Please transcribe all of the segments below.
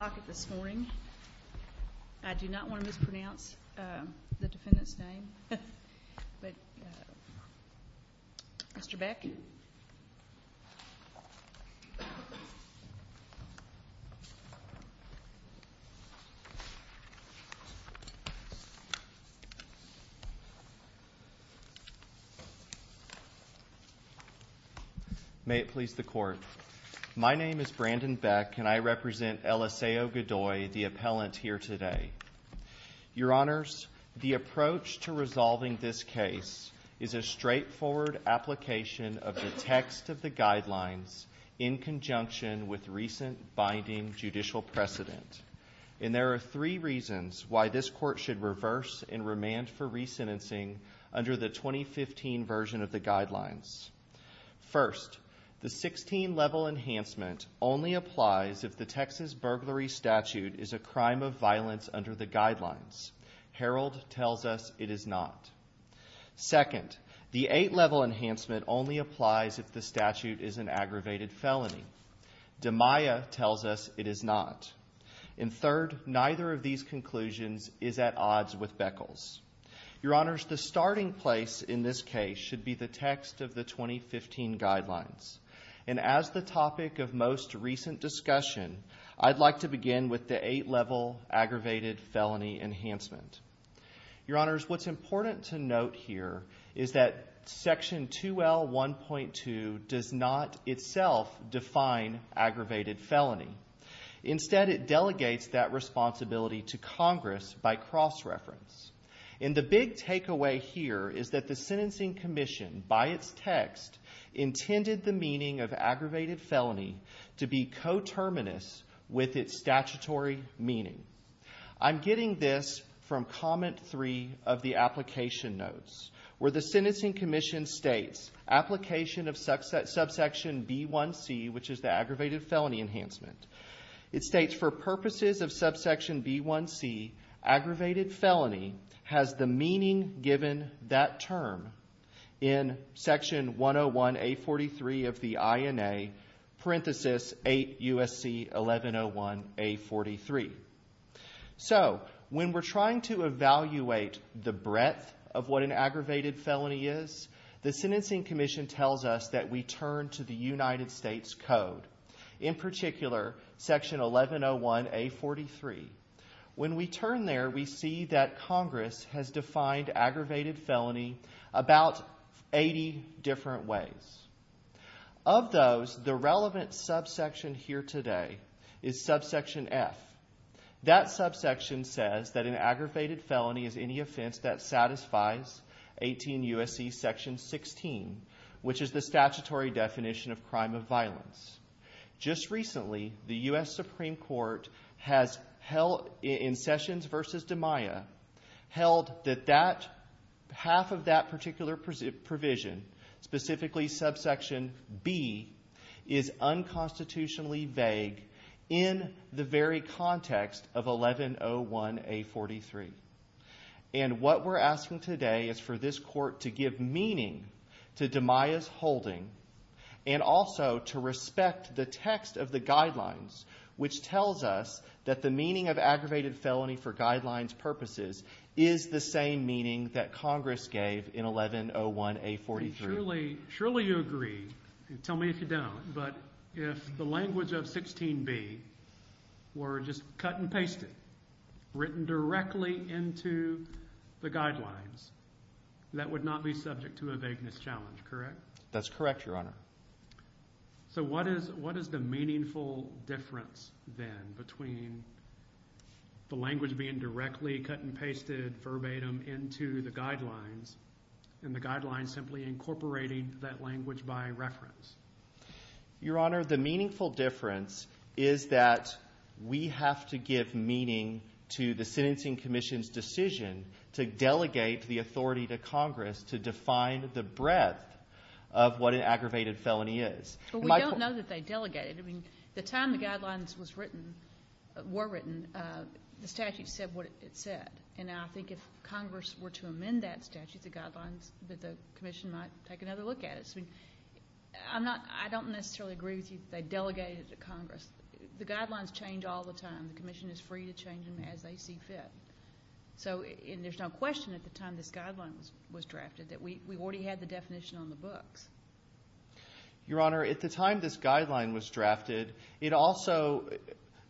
I do not want to mispronounce the defendant's name, but Mr. Beck. May it please the court. My name is Brandon Beck, and I represent Eliseo Godoy, the appellant here today. Your honors, the approach to resolving this case is a straightforward application of the text of the guidelines in conjunction with recent binding judicial precedent. And there are three reasons why this court should reverse and remand for re-sentencing under the 2015 version of the guidelines. First, the 16 level enhancement only applies if the Texas burglary statute is a crime of violence under the guidelines. Harold tells us it is not. Second, the eight level enhancement only applies if the statute is an aggravated felony. Demaya tells us it is not. And third, neither of these conclusions is at odds with Beckles. Your honors, the starting place in this case should be the text of the 2015 guidelines. And as the topic of most recent discussion, I'd like to begin with the eight level aggravated felony enhancement. Your honors, what's important to note here is that section 2L1.2 does not itself define aggravated felony. Instead, it delegates that responsibility to Congress by cross-reference. And the big takeaway here is that the sentencing commission, by its text, intended the meaning of aggravated felony to be coterminous with its statutory meaning. I'm getting this from comment 3 of the application notes, where the sentencing commission states application of subsection B1C, which is the aggravated felony enhancement. It states, for purposes of subsection B1C, aggravated felony has the meaning given that term in section 101A43 of the INA, parenthesis 8 U.S.C. 1101A43. So when we're trying to evaluate the breadth of what an aggravated felony is, the sentencing commission tells us that we turn to the United States Code. In particular, section 1101A43. When we turn there, we see that Congress has defined aggravated felony about 80 different ways. Of those, the relevant subsection here today is subsection F. That subsection says that an aggravated felony is any offense that satisfies 18 U.S.C. section 16, which is the statutory definition of crime of violence. Just recently, the U.S. Supreme Court has held in Sessions v. DiMaia, held that half of that particular provision, specifically subsection B, is unconstitutionally vague in the very context of 1101A43. And what we're asking today is for this court to give meaning to DiMaia's holding and also to respect the text of the guidelines, which tells us that the meaning of aggravated felony for guidelines purposes is the same meaning that Congress gave in 1101A43. Surely you agree. Tell me if you don't. But if the language of 16B were just cut and pasted, written directly into the guidelines, that would not be subject to a vagueness challenge, correct? That's correct, Your Honor. So what is the meaningful difference then between the language being directly cut and incorporating that language by reference? Your Honor, the meaningful difference is that we have to give meaning to the sentencing commission's decision to delegate the authority to Congress to define the breadth of what an aggravated felony is. But we don't know that they delegated. I mean, the time the guidelines were written, the statute said what it said. And I think if Congress were to amend that statute, the guidelines that the commission might take another look at it. I don't necessarily agree with you that they delegated it to Congress. The guidelines change all the time. The commission is free to change them as they see fit. So there's no question at the time this guideline was drafted that we already had the definition on the books. Your Honor, at the time this guideline was drafted, it also,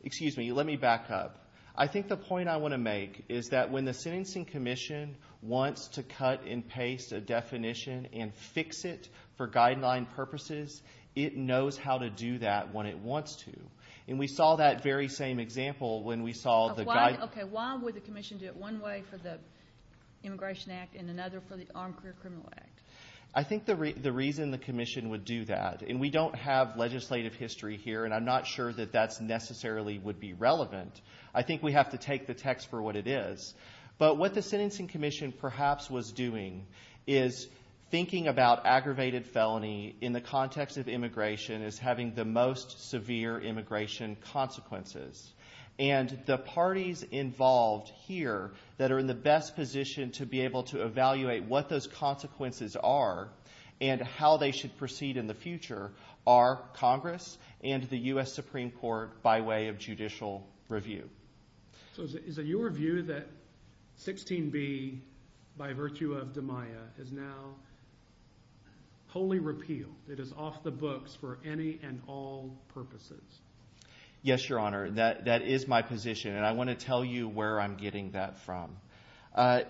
excuse me, let me back up. I think the point I want to make is that when the sentencing commission wants to cut and fix it for guideline purposes, it knows how to do that when it wants to. And we saw that very same example when we saw the guideline. Okay, why would the commission do it one way for the Immigration Act and another for the Armed Career Criminal Act? I think the reason the commission would do that, and we don't have legislative history here and I'm not sure that that necessarily would be relevant. I think we have to take the text for what it is. But what the sentencing commission perhaps was doing is thinking about aggravated felony in the context of immigration as having the most severe immigration consequences. And the parties involved here that are in the best position to be able to evaluate what those consequences are and how they should proceed in the future are Congress and the U.S. Supreme Court by way of judicial review. So is it your view that 16b by virtue of DeMaia is now wholly repealed, it is off the books for any and all purposes? Yes, Your Honor, that is my position and I want to tell you where I'm getting that from.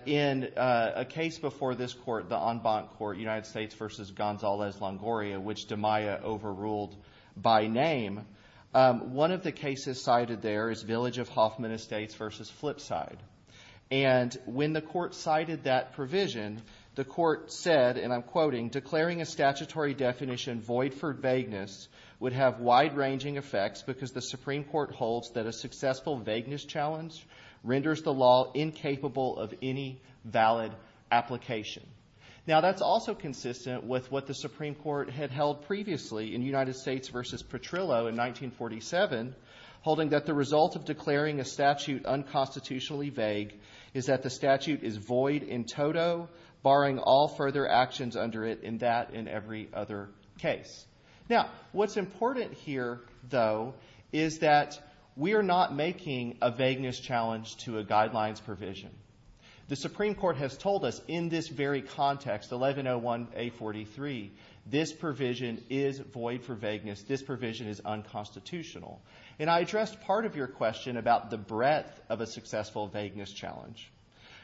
In a case before this court, the en banc court, United States v. Gonzalez-Longoria, which DeMaia overruled by name, one of the cases cited there is Village of Hoffman Estates v. Flipside. And when the court cited that provision, the court said, and I'm quoting, declaring a statutory definition void for vagueness would have wide-ranging effects because the Supreme Court holds that a successful vagueness challenge renders the law incapable of any valid application. Now that's also consistent with what the Supreme Court had held previously in United States v. Petrillo in 1947, holding that the result of declaring a statute unconstitutionally vague is that the statute is void in toto, barring all further actions under it in that and every other case. Now what's important here, though, is that we are not making a vagueness challenge to a guidelines provision. The Supreme Court has told us in this very context, 1101-A43, this provision is void for vagueness. This provision is unconstitutional. And I addressed part of your question about the breadth of a successful vagueness challenge.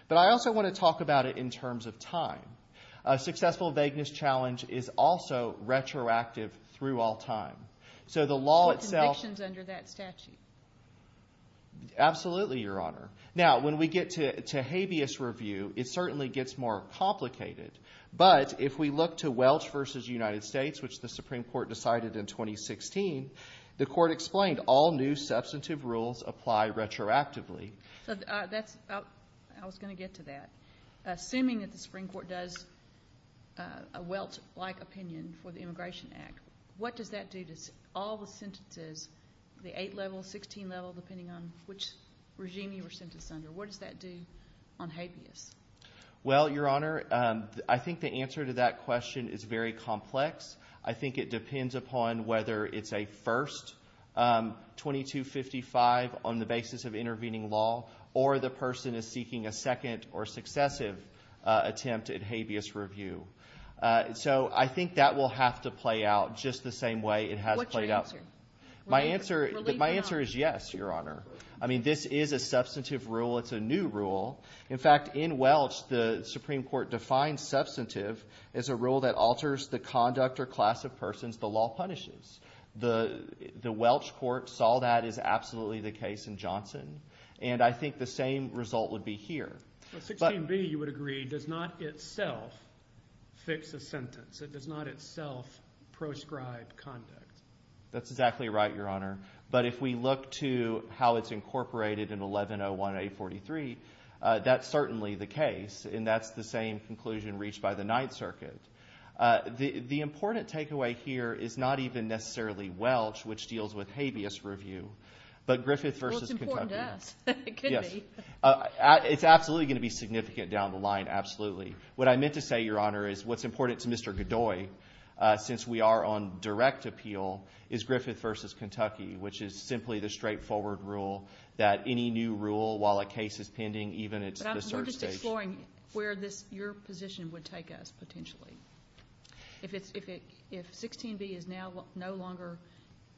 But I also want to talk about it in terms of time. A successful vagueness challenge is also retroactive through all time. So the law itself- No convictions under that statute. Absolutely, Your Honor. Now, when we get to habeas review, it certainly gets more complicated. But if we look to Welch v. United States, which the Supreme Court decided in 2016, the Court explained all new substantive rules apply retroactively. I was going to get to that. Assuming that the Supreme Court does a Welch-like opinion for the Immigration Act, what does that do to all the sentences, the 8-level, 16-level, depending on which regime you were sentenced under? What does that do on habeas? Well, Your Honor, I think the answer to that question is very complex. I think it depends upon whether it's a first 2255 on the basis of intervening law or the person is seeking a second or successive attempt at habeas review. So I think that will have to play out just the same way it has played out- What's your answer? My answer is yes, Your Honor. I mean, this is a substantive rule. It's a new rule. In fact, in Welch, the Supreme Court defines substantive as a rule that alters the conduct or class of persons the law punishes. The Welch court saw that as absolutely the case in Johnson. And I think the same result would be here. 16b, you would agree, does not itself fix a sentence. It does not itself proscribe conduct. That's exactly right, Your Honor. But if we look to how it's incorporated in 1101-843, that's certainly the case, and that's the same conclusion reached by the Ninth Circuit. The important takeaway here is not even necessarily Welch, which deals with habeas review, but Griffith versus Kentucky. Well, it's important to us. It could be. It's absolutely going to be significant down the line, absolutely. What I meant to say, Your Honor, is what's important to Mr. Godoy, since we are on direct appeal, is Griffith versus Kentucky, which is simply the straightforward rule that any new rule, while a case is pending, even at the search stage- But we're just exploring where your position would take us, potentially. If 16b is now no longer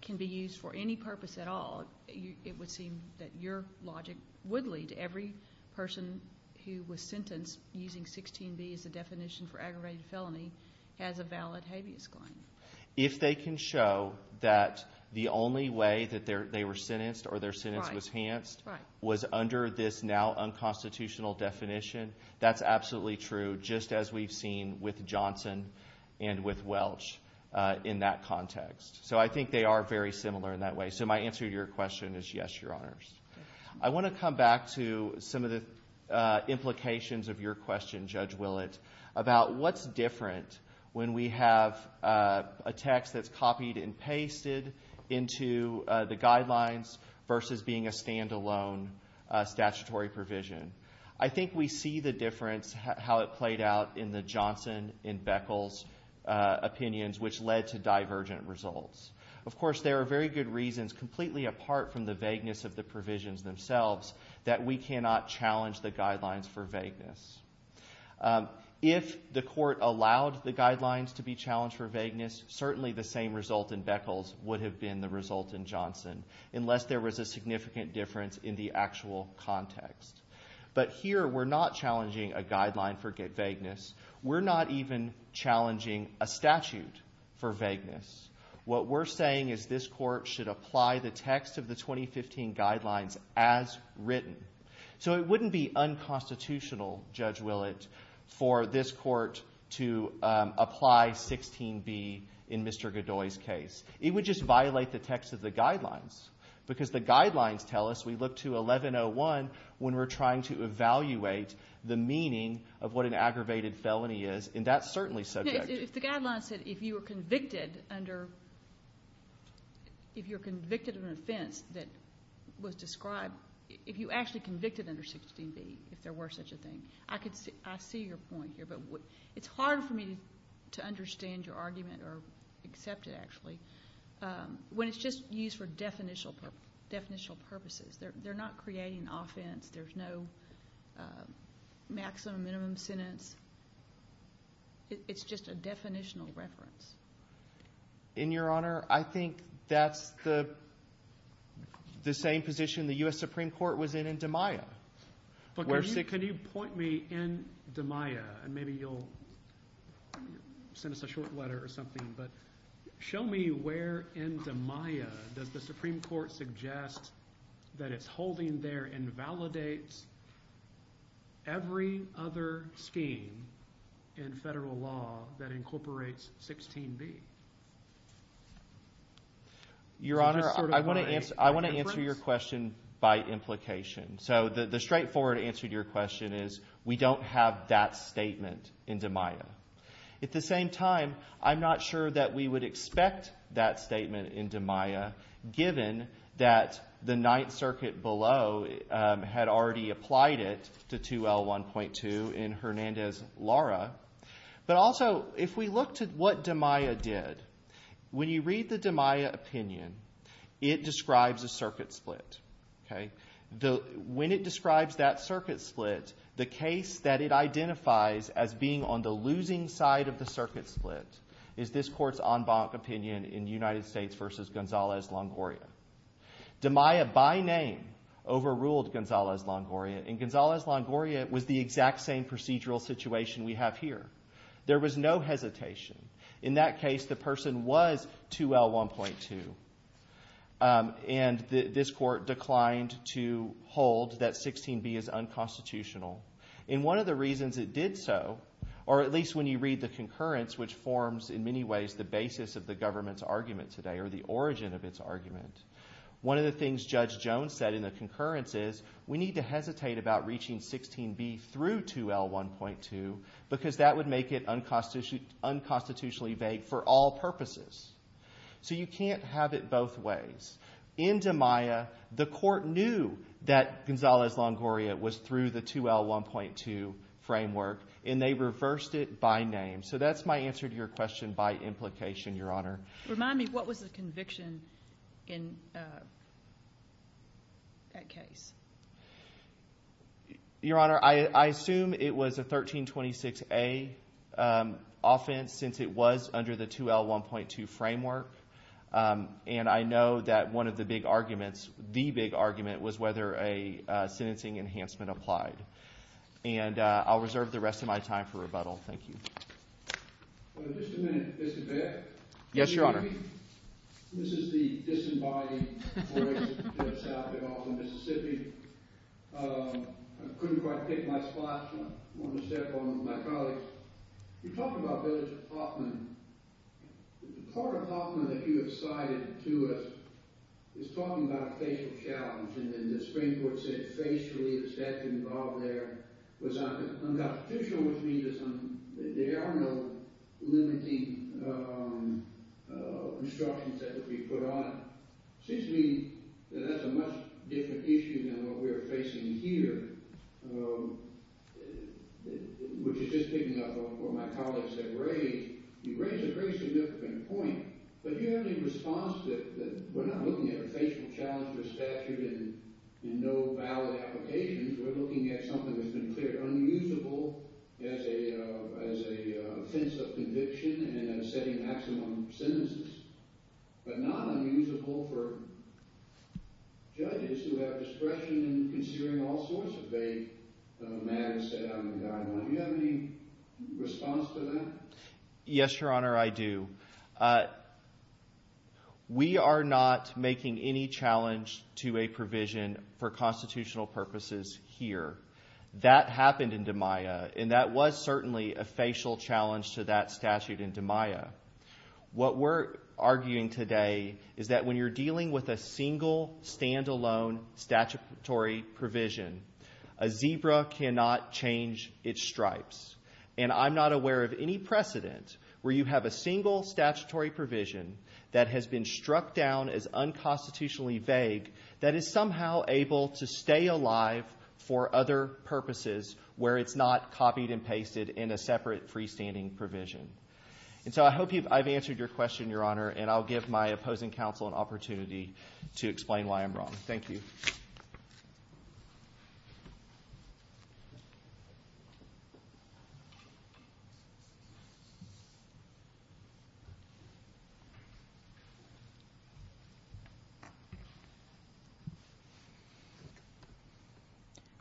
can be used for any purpose at all, it would seem that your logic would lead every person who was sentenced using 16b as a definition for aggravated felony as a valid habeas claim. If they can show that the only way that they were sentenced or their sentence was henced was under this now unconstitutional definition, that's absolutely true, just as we've seen with Johnson and with Welch in that context. So I think they are very similar in that way. So my answer to your question is yes, Your Honors. I want to come back to some of the implications of your question, Judge Willett, about what's different when we have a text that's copied and pasted into the guidelines versus being a standalone statutory provision. I think we see the difference, how it played out in the Johnson and Beckles opinions, which led to divergent results. Of course, there are very good reasons completely apart from the vagueness of the provisions themselves that we cannot challenge the guidelines for vagueness. If the court allowed the guidelines to be challenged for vagueness, certainly the same result in Beckles would have been the result in Johnson, unless there was a significant difference in the actual context. But here, we're not challenging a guideline for vagueness. We're not even challenging a statute for vagueness. What we're saying is this court should apply the text of the 2015 guidelines as written. So it wouldn't be unconstitutional, Judge Willett, for this court to apply 16B in Mr. Godoy's case. It would just violate the text of the guidelines, because the guidelines tell us we look to 1101 when we're trying to evaluate the meaning of what an aggravated felony is, and that's certainly subjective. If the guidelines said if you were convicted under, if you're convicted of an offense that was described, if you actually convicted under 16B, if there were such a thing, I see your point here. But it's hard for me to understand your argument or accept it, actually, when it's just used for definitional purposes. They're not creating offense. There's no maximum, minimum sentence. It's just a definitional reference. In your honor, I think that's the same position the U.S. Supreme Court was in in DiMaia. Can you point me in DiMaia, and maybe you'll send us a short letter or something, but show me where in DiMaia does the Supreme Court suggest that it's holding there and validates every other scheme in federal law that incorporates 16B? Your honor, I want to answer your question by implication. So the straightforward answer to your question is we don't have that statement in DiMaia. At the same time, I'm not sure that we would expect that statement in DiMaia, given that the Ninth Circuit below had already applied it to 2L1.2 in Hernandez-Lara. But also, if we look to what DiMaia did, when you read the DiMaia opinion, it describes a circuit split. When it describes that circuit split, the case that it identifies as being on the losing side of the circuit split is this Court's en banc opinion in United States v. Gonzalez-Longoria. DiMaia, by name, overruled Gonzalez-Longoria, and Gonzalez-Longoria was the exact same procedural situation we have here. There was no hesitation. In that case, the person was 2L1.2, and this Court declined to hold that 16B is unconstitutional. And one of the reasons it did so, or at least when you read the concurrence, which forms in many ways the basis of the government's argument today, or the origin of its argument, one of the things Judge Jones said in the concurrence is, we need to hesitate about reaching 16B through 2L1.2, because that would make it unconstitutionally vague for all purposes. So you can't have it both ways. In DiMaia, the Court knew that Gonzalez-Longoria was through the 2L1.2 framework, and they reversed it by name. So that's my answer to your question by implication, Your Honor. Remind me, what was the conviction in that case? Your Honor, I assume it was a 1326A offense, since it was under the 2L1.2 framework. And I know that one of the big arguments, the big argument, was whether a sentencing enhancement applied. Thank you. Well, just a minute, Mr. Baird. Yes, Your Honor. This is the disembodied voice that's out there all over Mississippi. I couldn't quite pick my spot, so I'm going to step over to my colleagues. You talked about Bill Huffman. The part of Huffman that you have cited to us is talking about a facial challenge. And then the Supreme Court said, facially, the statute involved there was unconstitutional, which means it's unconstitutional. There are no limiting instructions that could be put on it. It seems to me that that's a much different issue than what we're facing here, which is just picking up on what my colleagues have raised. You raise a very significant point, but do you have any response that we're not looking at a facial challenge for statute and no valid applications, we're looking at something that's been clearly unusable as a fence of conviction and as setting maximum sentences, but not unusable for judges who have discretion in considering all sorts of vague matters set out in the Guidelines. Do you have any response to that? Yes, Your Honor, I do. We are not making any challenge to a provision for constitutional purposes here. That happened in DiMaia, and that was certainly a facial challenge to that statute in DiMaia. What we're arguing today is that when you're dealing with a single, stand-alone statutory provision, a zebra cannot change its stripes. And I'm not aware of any precedent where you have a single statutory provision that has been struck down as unconstitutionally vague that is somehow able to stay alive for other purposes where it's not copied and pasted in a separate freestanding provision. And so I hope I've answered your question, Your Honor, and I'll give my opposing counsel an opportunity to explain why I'm wrong. Thank you.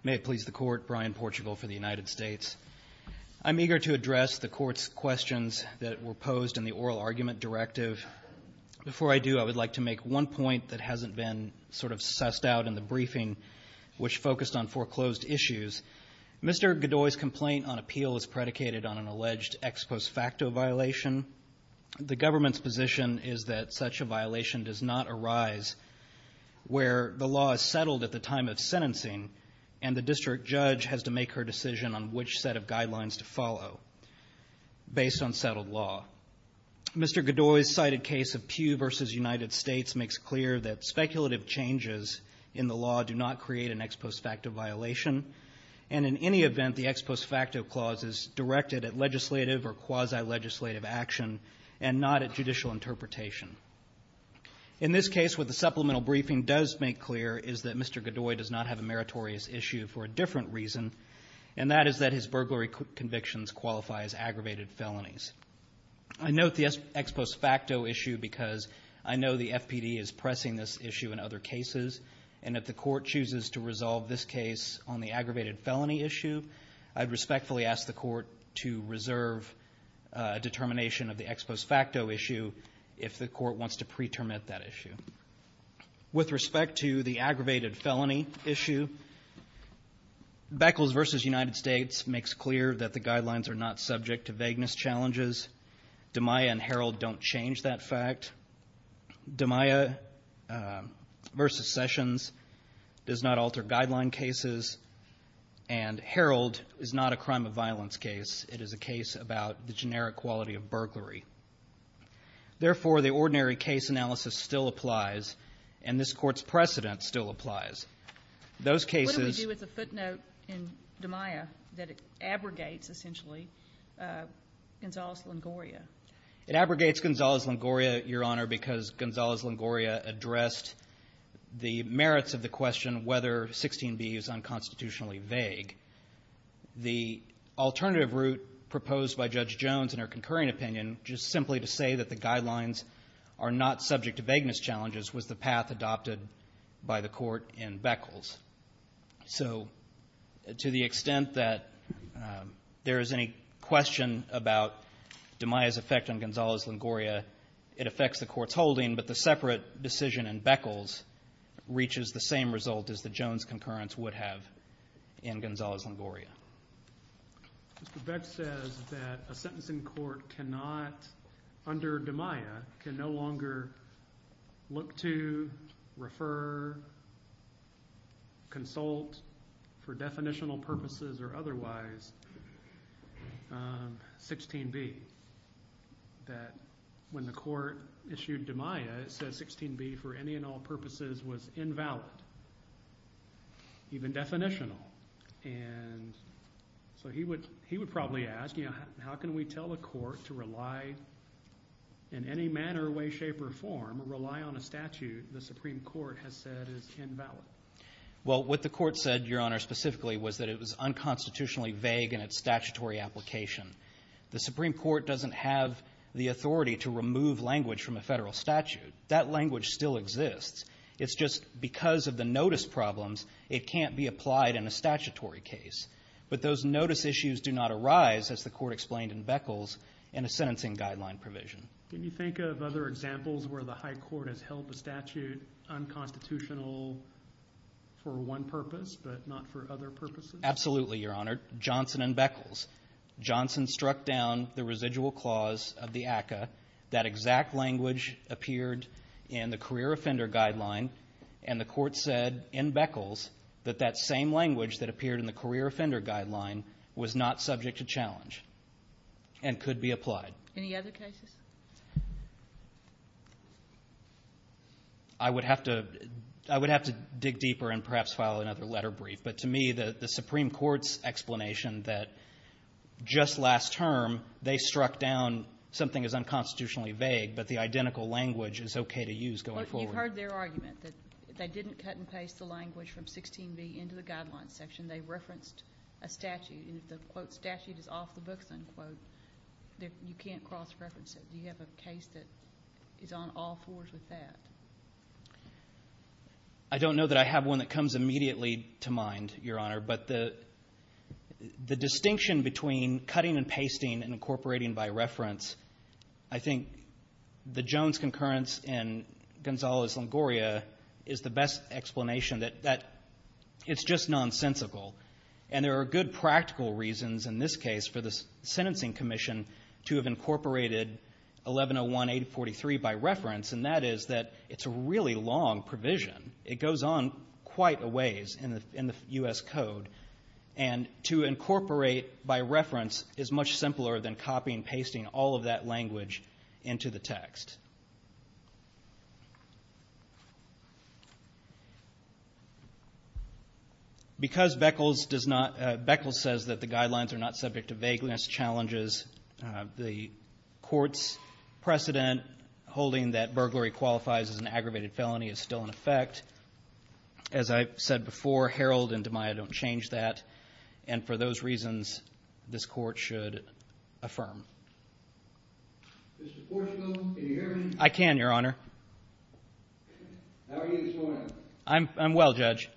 May it please the Court. Brian Portugal for the United States. I'm eager to address the Court's questions that were posed in the oral argument directive. Before I do, I would like to make one point that hasn't been sort of sussed out in the briefing, which focused on foreclosed issues. Mr. Godoy's complaint on appeal is predicated on an alleged ex post facto violation. The government's position is that such a violation does not arise where the law is settled at the time of sentencing and the district judge has to make her decision on which set of guidelines to follow based on settled law. Mr. Godoy's cited case of Pew v. United States makes clear that speculative changes in the law do not create an ex post facto violation, and in any event, the ex post facto clause is directed at legislative or quasi-legislative action and not at judicial interpretation. In this case, what the supplemental briefing does make clear is that Mr. Godoy does not have a meritorious issue for a different reason, and that is that his burglary convictions qualify as aggravated felonies. I note the ex post facto issue because I know the FPD is pressing this issue in other cases, and if the court chooses to resolve this case on the aggravated felony issue, I'd respectfully ask the court to reserve a determination of the ex post facto issue if the court wants to pretermine that issue. With respect to the aggravated felony issue, Beckles v. United States makes clear that the guidelines are not subject to vagueness challenges. DiMaia and Herald don't change that fact. DiMaia v. Sessions does not alter guideline cases, and Herald is not a crime of violence case. It is a case about the generic quality of burglary. Therefore, the ordinary case analysis still applies, and this Court's precedent still applies. Those cases ---- But what do we do with the footnote in DiMaia that it abrogates, essentially, Gonzalez-Longoria? It abrogates Gonzalez-Longoria, Your Honor, because Gonzalez-Longoria addressed the merits of the question whether 16b is unconstitutionally vague. The alternative route proposed by Judge Jones in her concurring opinion, just simply to say that the guidelines are not subject to vagueness challenges, was the path adopted by the Court in Beckles. So to the extent that there is any question about DiMaia's effect on Gonzalez-Longoria, it affects the Court's holding, but the separate decision in Beckles reaches the same result as the Jones concurrence would have in Gonzalez-Longoria. Mr. Beckles says that a sentence in court cannot, under DiMaia, can no longer look to, refer, consult for definitional purposes or otherwise 16b. That when the Court issued DiMaia, it says 16b for any and all purposes was invalid, even definitional. And so he would probably ask, you know, how can we tell the Court to rely in any manner, way, shape, or form, rely on a statute the Supreme Court has said is invalid? Well, what the Court said, Your Honor, specifically, was that it was unconstitutionally vague in its statutory application. The Supreme Court doesn't have the authority to remove language from a federal statute. That language still exists. It's just because of the notice problems, it can't be applied in a statutory case. But those notice issues do not arise, as the Court explained in Beckles, in a sentencing guideline provision. Can you think of other examples where the high court has held the statute unconstitutional for one purpose but not for other purposes? Absolutely, Your Honor. Johnson and Beckles. Johnson struck down the residual clause of the ACCA. That exact language appeared in the career offender guideline. And the Court said in Beckles that that same language that appeared in the career offender guideline was not subject to challenge and could be applied. Any other cases? I would have to dig deeper and perhaps file another letter brief. But to me, the Supreme Court's explanation that just last term they struck down something as unconstitutionally vague, but the identical language is okay to use going forward. But you've heard their argument that they didn't cut and paste the language from 16b into the guidelines section. They referenced a statute. And if the, quote, statute is off the books, unquote, you can't cross-reference it. Do you have a case that is on all fours with that? I don't know that I have one that comes immediately to mind, Your Honor. But the distinction between cutting and pasting and incorporating by reference, I think the Jones concurrence and Gonzalez-Longoria is the best explanation that it's just nonsensical. And there are good practical reasons in this case for the Sentencing Commission to have incorporated 1101-843 by reference, and that is that it's a really long provision. It goes on quite a ways in the U.S. Code. And to incorporate by reference is much simpler than copying and pasting all of that language into the text. Because Beckles says that the guidelines are not subject to vagueness challenges, the Court's precedent holding that burglary qualifies as an aggravated felony is still in effect. As I've said before, Herald and DeMaia don't change that. And for those reasons, this Court should affirm. Mr. Portio, can you hear me? I can, Your Honor. I'm well, Judge.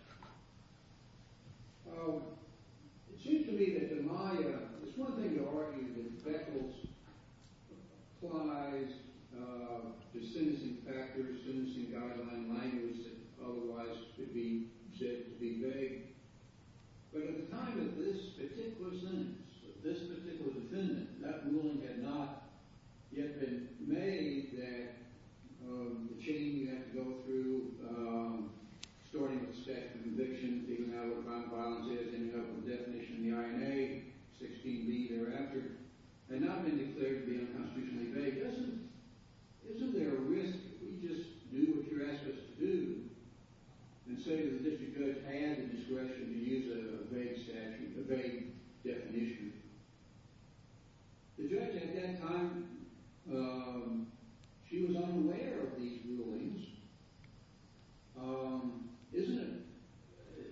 It seems to me that DeMaia, it's one thing to argue that Beckles applies the sentencing factors, sentencing guideline language that otherwise could be said to be vague. But at the time of this particular sentence, this particular defendant, that ruling had not yet been made that the chain you have to go through starting with the statute of conviction, figuring out what violent violence is, ending up with the definition in the INA, 16b thereafter, had not been declared to be unconstitutionally vague. Isn't there a risk if we just do what you're asking us to do and say that the district judge had the discretion to use a vague statute, a vague definition? The judge at that time, she was unaware of these rulings.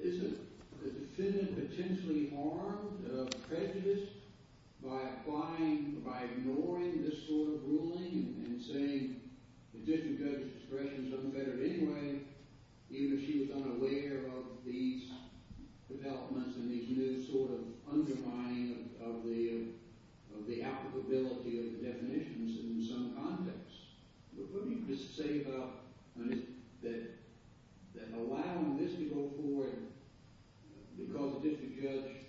Isn't a defendant potentially harmed, prejudiced, by applying, by ignoring this sort of ruling and saying the district judge's discretion doesn't matter anyway, even if she was unaware of these developments and these new sort of undermining of the applicability of the definitions in some contexts? What do you say about that allowing this to go forward because the district judge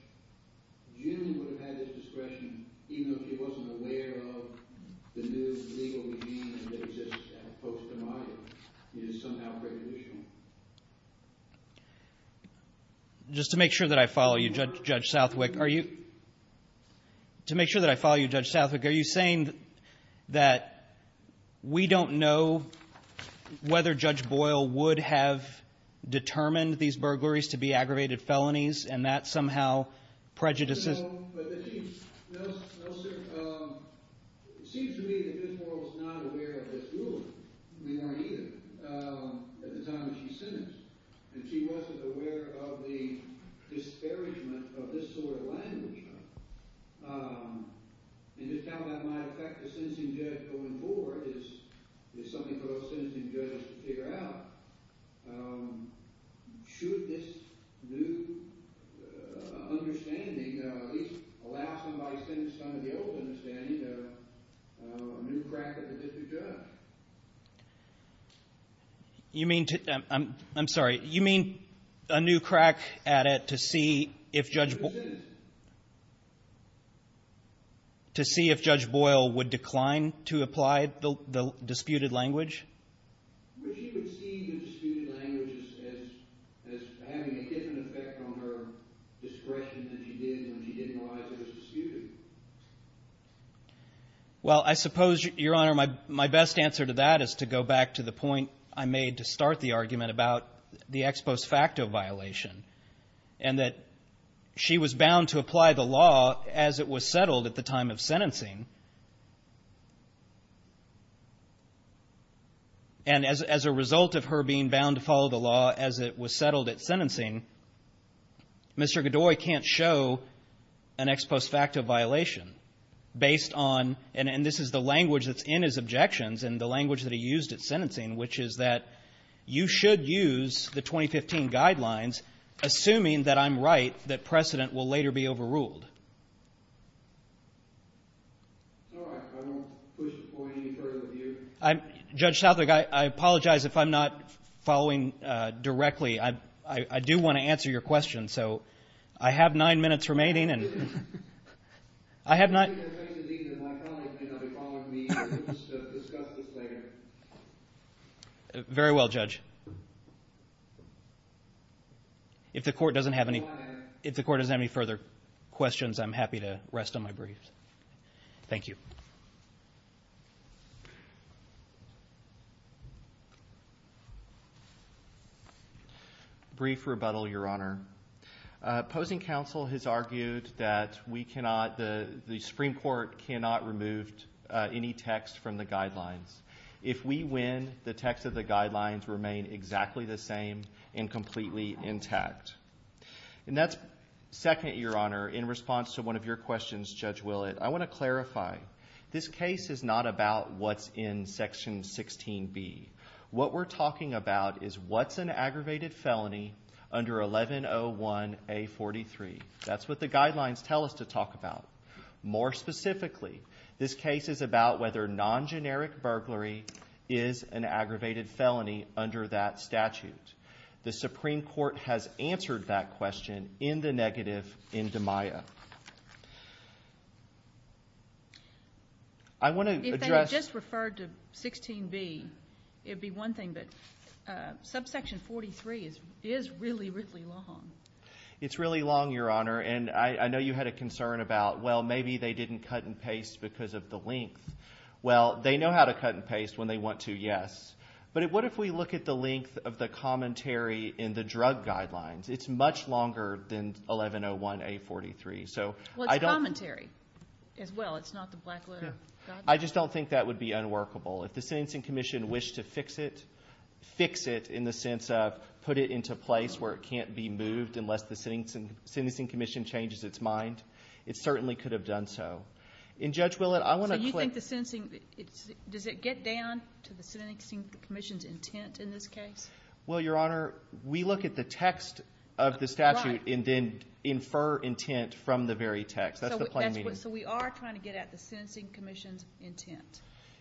generally would have had this discretion even if he wasn't aware of the new legal regime that exists as opposed to mine and it is somehow prejudicial? Just to make sure that I follow you, Judge Southwick, are you saying that we don't know whether Judge Boyle would have determined these burglaries to be aggravated felonies and that somehow prejudices? No, sir. It seems to me that Judge Boyle was not aware of this ruling. We weren't either at the time that she sentenced. And she wasn't aware of the disparagement of this sort of language. And just how that might affect the sentencing judge going forward is something for those sentencing judges to figure out. Should this new understanding at least allow somebody sentenced under the old understanding to a new crack at the district judge? You mean to – I'm sorry. You mean a new crack at it to see if Judge Boyle would decline to apply the disputed language? Would she see the disputed language as having a different effect on her discretion than she did when she didn't realize it was disputed? Well, I suppose, Your Honor, my best answer to that is to go back to the point I made to start the argument about the ex post facto violation and that she was bound to apply the law as it was settled at the time of sentencing. And as a result of her being bound to follow the law as it was settled at sentencing, Mr. Godoy can't show an ex post facto violation based on – and this is the language that's in his objections and the language that he used at sentencing, which is that you should use the 2015 guidelines assuming that I'm right, that precedent will later be overruled. All right. I won't push the point any further with you. Judge Southwick, I apologize if I'm not following directly. I do want to answer your question, so I have nine minutes remaining. I have not – Very well, Judge. If the Court doesn't have any further questions, I'm happy to rest on my briefs. Thank you. Brief rebuttal, Your Honor. Opposing counsel has argued that we cannot – the Supreme Court cannot remove any text from the guidelines. If we win, the text of the guidelines remain exactly the same and completely intact. And that's second, Your Honor. In response to one of your questions, Judge Willett, I want to clarify. This case is not about what's in Section 16B. What we're talking about is what's an aggravated felony under 1101A43. That's what the guidelines tell us to talk about. More specifically, this case is about whether non-generic burglary is an aggravated felony under that statute. The Supreme Court has answered that question in the negative in DiMaia. I want to address – It would be one thing, but subsection 43 is really, really long. It's really long, Your Honor. And I know you had a concern about, well, maybe they didn't cut and paste because of the length. Well, they know how to cut and paste when they want to, yes. But what if we look at the length of the commentary in the drug guidelines? It's much longer than 1101A43. Well, it's commentary as well. It's not the black letter guidelines. I just don't think that would be unworkable. If the Sentencing Commission wished to fix it, fix it in the sense of put it into place where it can't be moved unless the Sentencing Commission changes its mind, it certainly could have done so. And, Judge Willett, I want to click – So you think the sentencing – does it get down to the Sentencing Commission's intent in this case? Well, Your Honor, we look at the text of the statute and then infer intent from the very text. That's the plain meaning.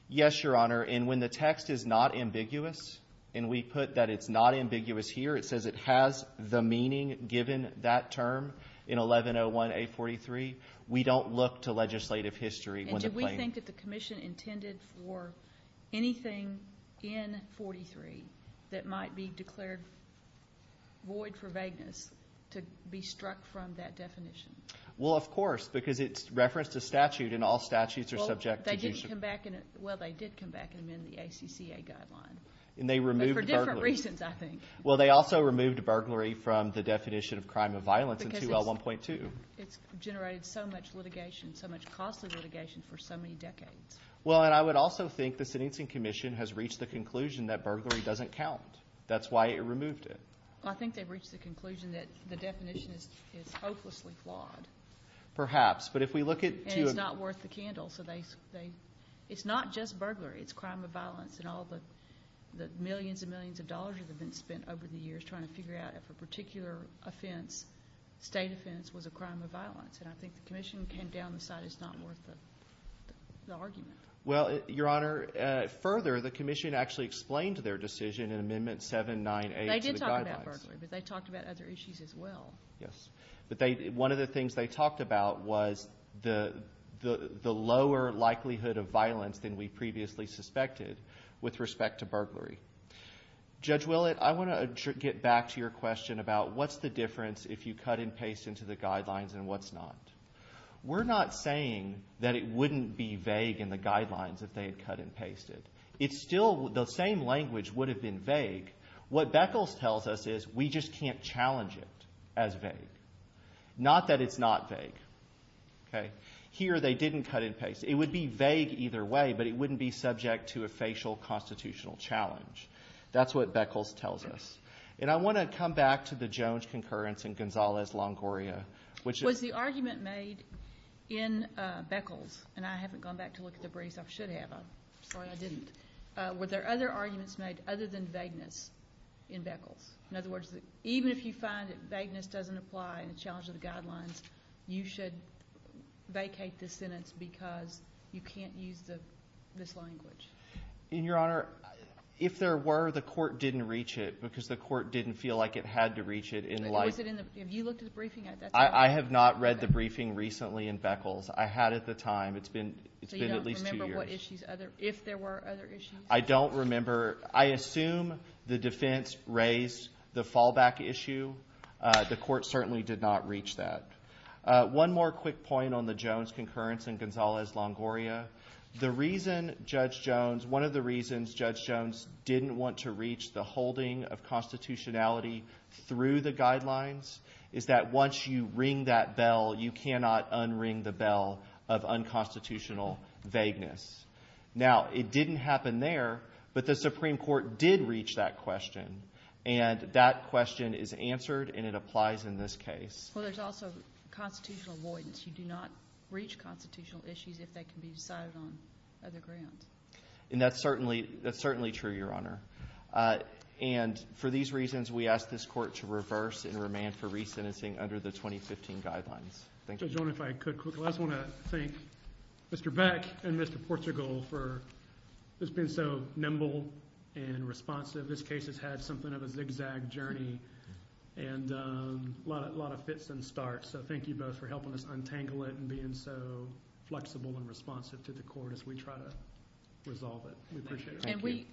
Yes, Your Honor, and when the text is not ambiguous, and we put that it's not ambiguous here, it says it has the meaning given that term in 1101A43. We don't look to legislative history when the plain – And do we think that the commission intended for anything in 43 that might be declared void for vagueness to be struck from that definition? Well, of course, because it's referenced a statute, and all statutes are subject to – Well, they did come back and amend the ACCA guideline. And they removed burglary. For different reasons, I think. Well, they also removed burglary from the definition of crime of violence in 2L1.2. It's generated so much litigation, so much costly litigation for so many decades. Well, and I would also think the Sentencing Commission has reached the conclusion that burglary doesn't count. That's why it removed it. I think they've reached the conclusion that the definition is hopelessly flawed. Perhaps, but if we look at – And it's not worth the candle, so they – It's not just burglary. It's crime of violence, and all the millions and millions of dollars have been spent over the years trying to figure out if a particular offense, state offense, was a crime of violence. And I think the commission came down and decided it's not worth the argument. Well, Your Honor, further, the commission actually explained their decision in Amendment 798 to the guidelines. They did talk about burglary, but they talked about other issues as well. Yes. But one of the things they talked about was the lower likelihood of violence than we previously suspected with respect to burglary. Judge Willett, I want to get back to your question about what's the difference if you cut and paste into the guidelines and what's not. We're not saying that it wouldn't be vague in the guidelines if they had cut and pasted. It's still – the same language would have been vague. What Beckles tells us is we just can't challenge it as vague, not that it's not vague. Here they didn't cut and paste. It would be vague either way, but it wouldn't be subject to a facial constitutional challenge. That's what Beckles tells us. And I want to come back to the Jones concurrence and Gonzalez-Longoria. Was the argument made in Beckles – and I haven't gone back to look at the briefs. I should have. I'm sorry I didn't. Were there other arguments made other than vagueness in Beckles? In other words, even if you find that vagueness doesn't apply in the challenge of the guidelines, you should vacate the sentence because you can't use this language. And, Your Honor, if there were, the court didn't reach it because the court didn't feel like it had to reach it. Was it in the – have you looked at the briefing? I have not read the briefing recently in Beckles. It's been at least two years. If there were other issues? I don't remember. I assume the defense raised the fallback issue. The court certainly did not reach that. One more quick point on the Jones concurrence and Gonzalez-Longoria. The reason Judge Jones – one of the reasons Judge Jones didn't want to reach the holding of constitutionality through the guidelines is that once you ring that bell, you cannot unring the bell of unconstitutional vagueness. Now, it didn't happen there, but the Supreme Court did reach that question. And that question is answered and it applies in this case. Well, there's also constitutional avoidance. You do not reach constitutional issues if they can be decided on other grounds. And that's certainly true, Your Honor. And for these reasons, we ask this court to reverse and remand for resentencing under the 2015 guidelines. Thank you. Judge Jones, if I could quickly, I just want to thank Mr. Beck and Mr. Portugal for just being so nimble and responsive. This case has had something of a zigzag journey and a lot of fits and starts. So thank you both for helping us untangle it and being so flexible and responsive to the court as we try to resolve it. We appreciate it. And we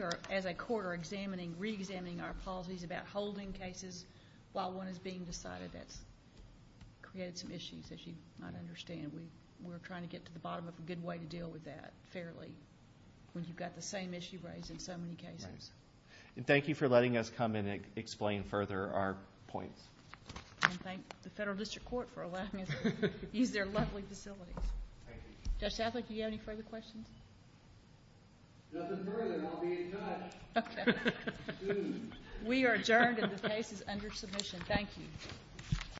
are, as a court, are examining, reexamining our policies about holding cases while one is being decided. That's created some issues, as you might understand. We're trying to get to the bottom of a good way to deal with that fairly when you've got the same issue raised in so many cases. And thank you for letting us come in and explain further our points. And thank the Federal District Court for allowing us to use their lovely facilities. Thank you. Judge Sattler, do you have any further questions? Nothing further. I'll be in touch. Okay. Soon. We are adjourned, and the case is under submission. Thank you.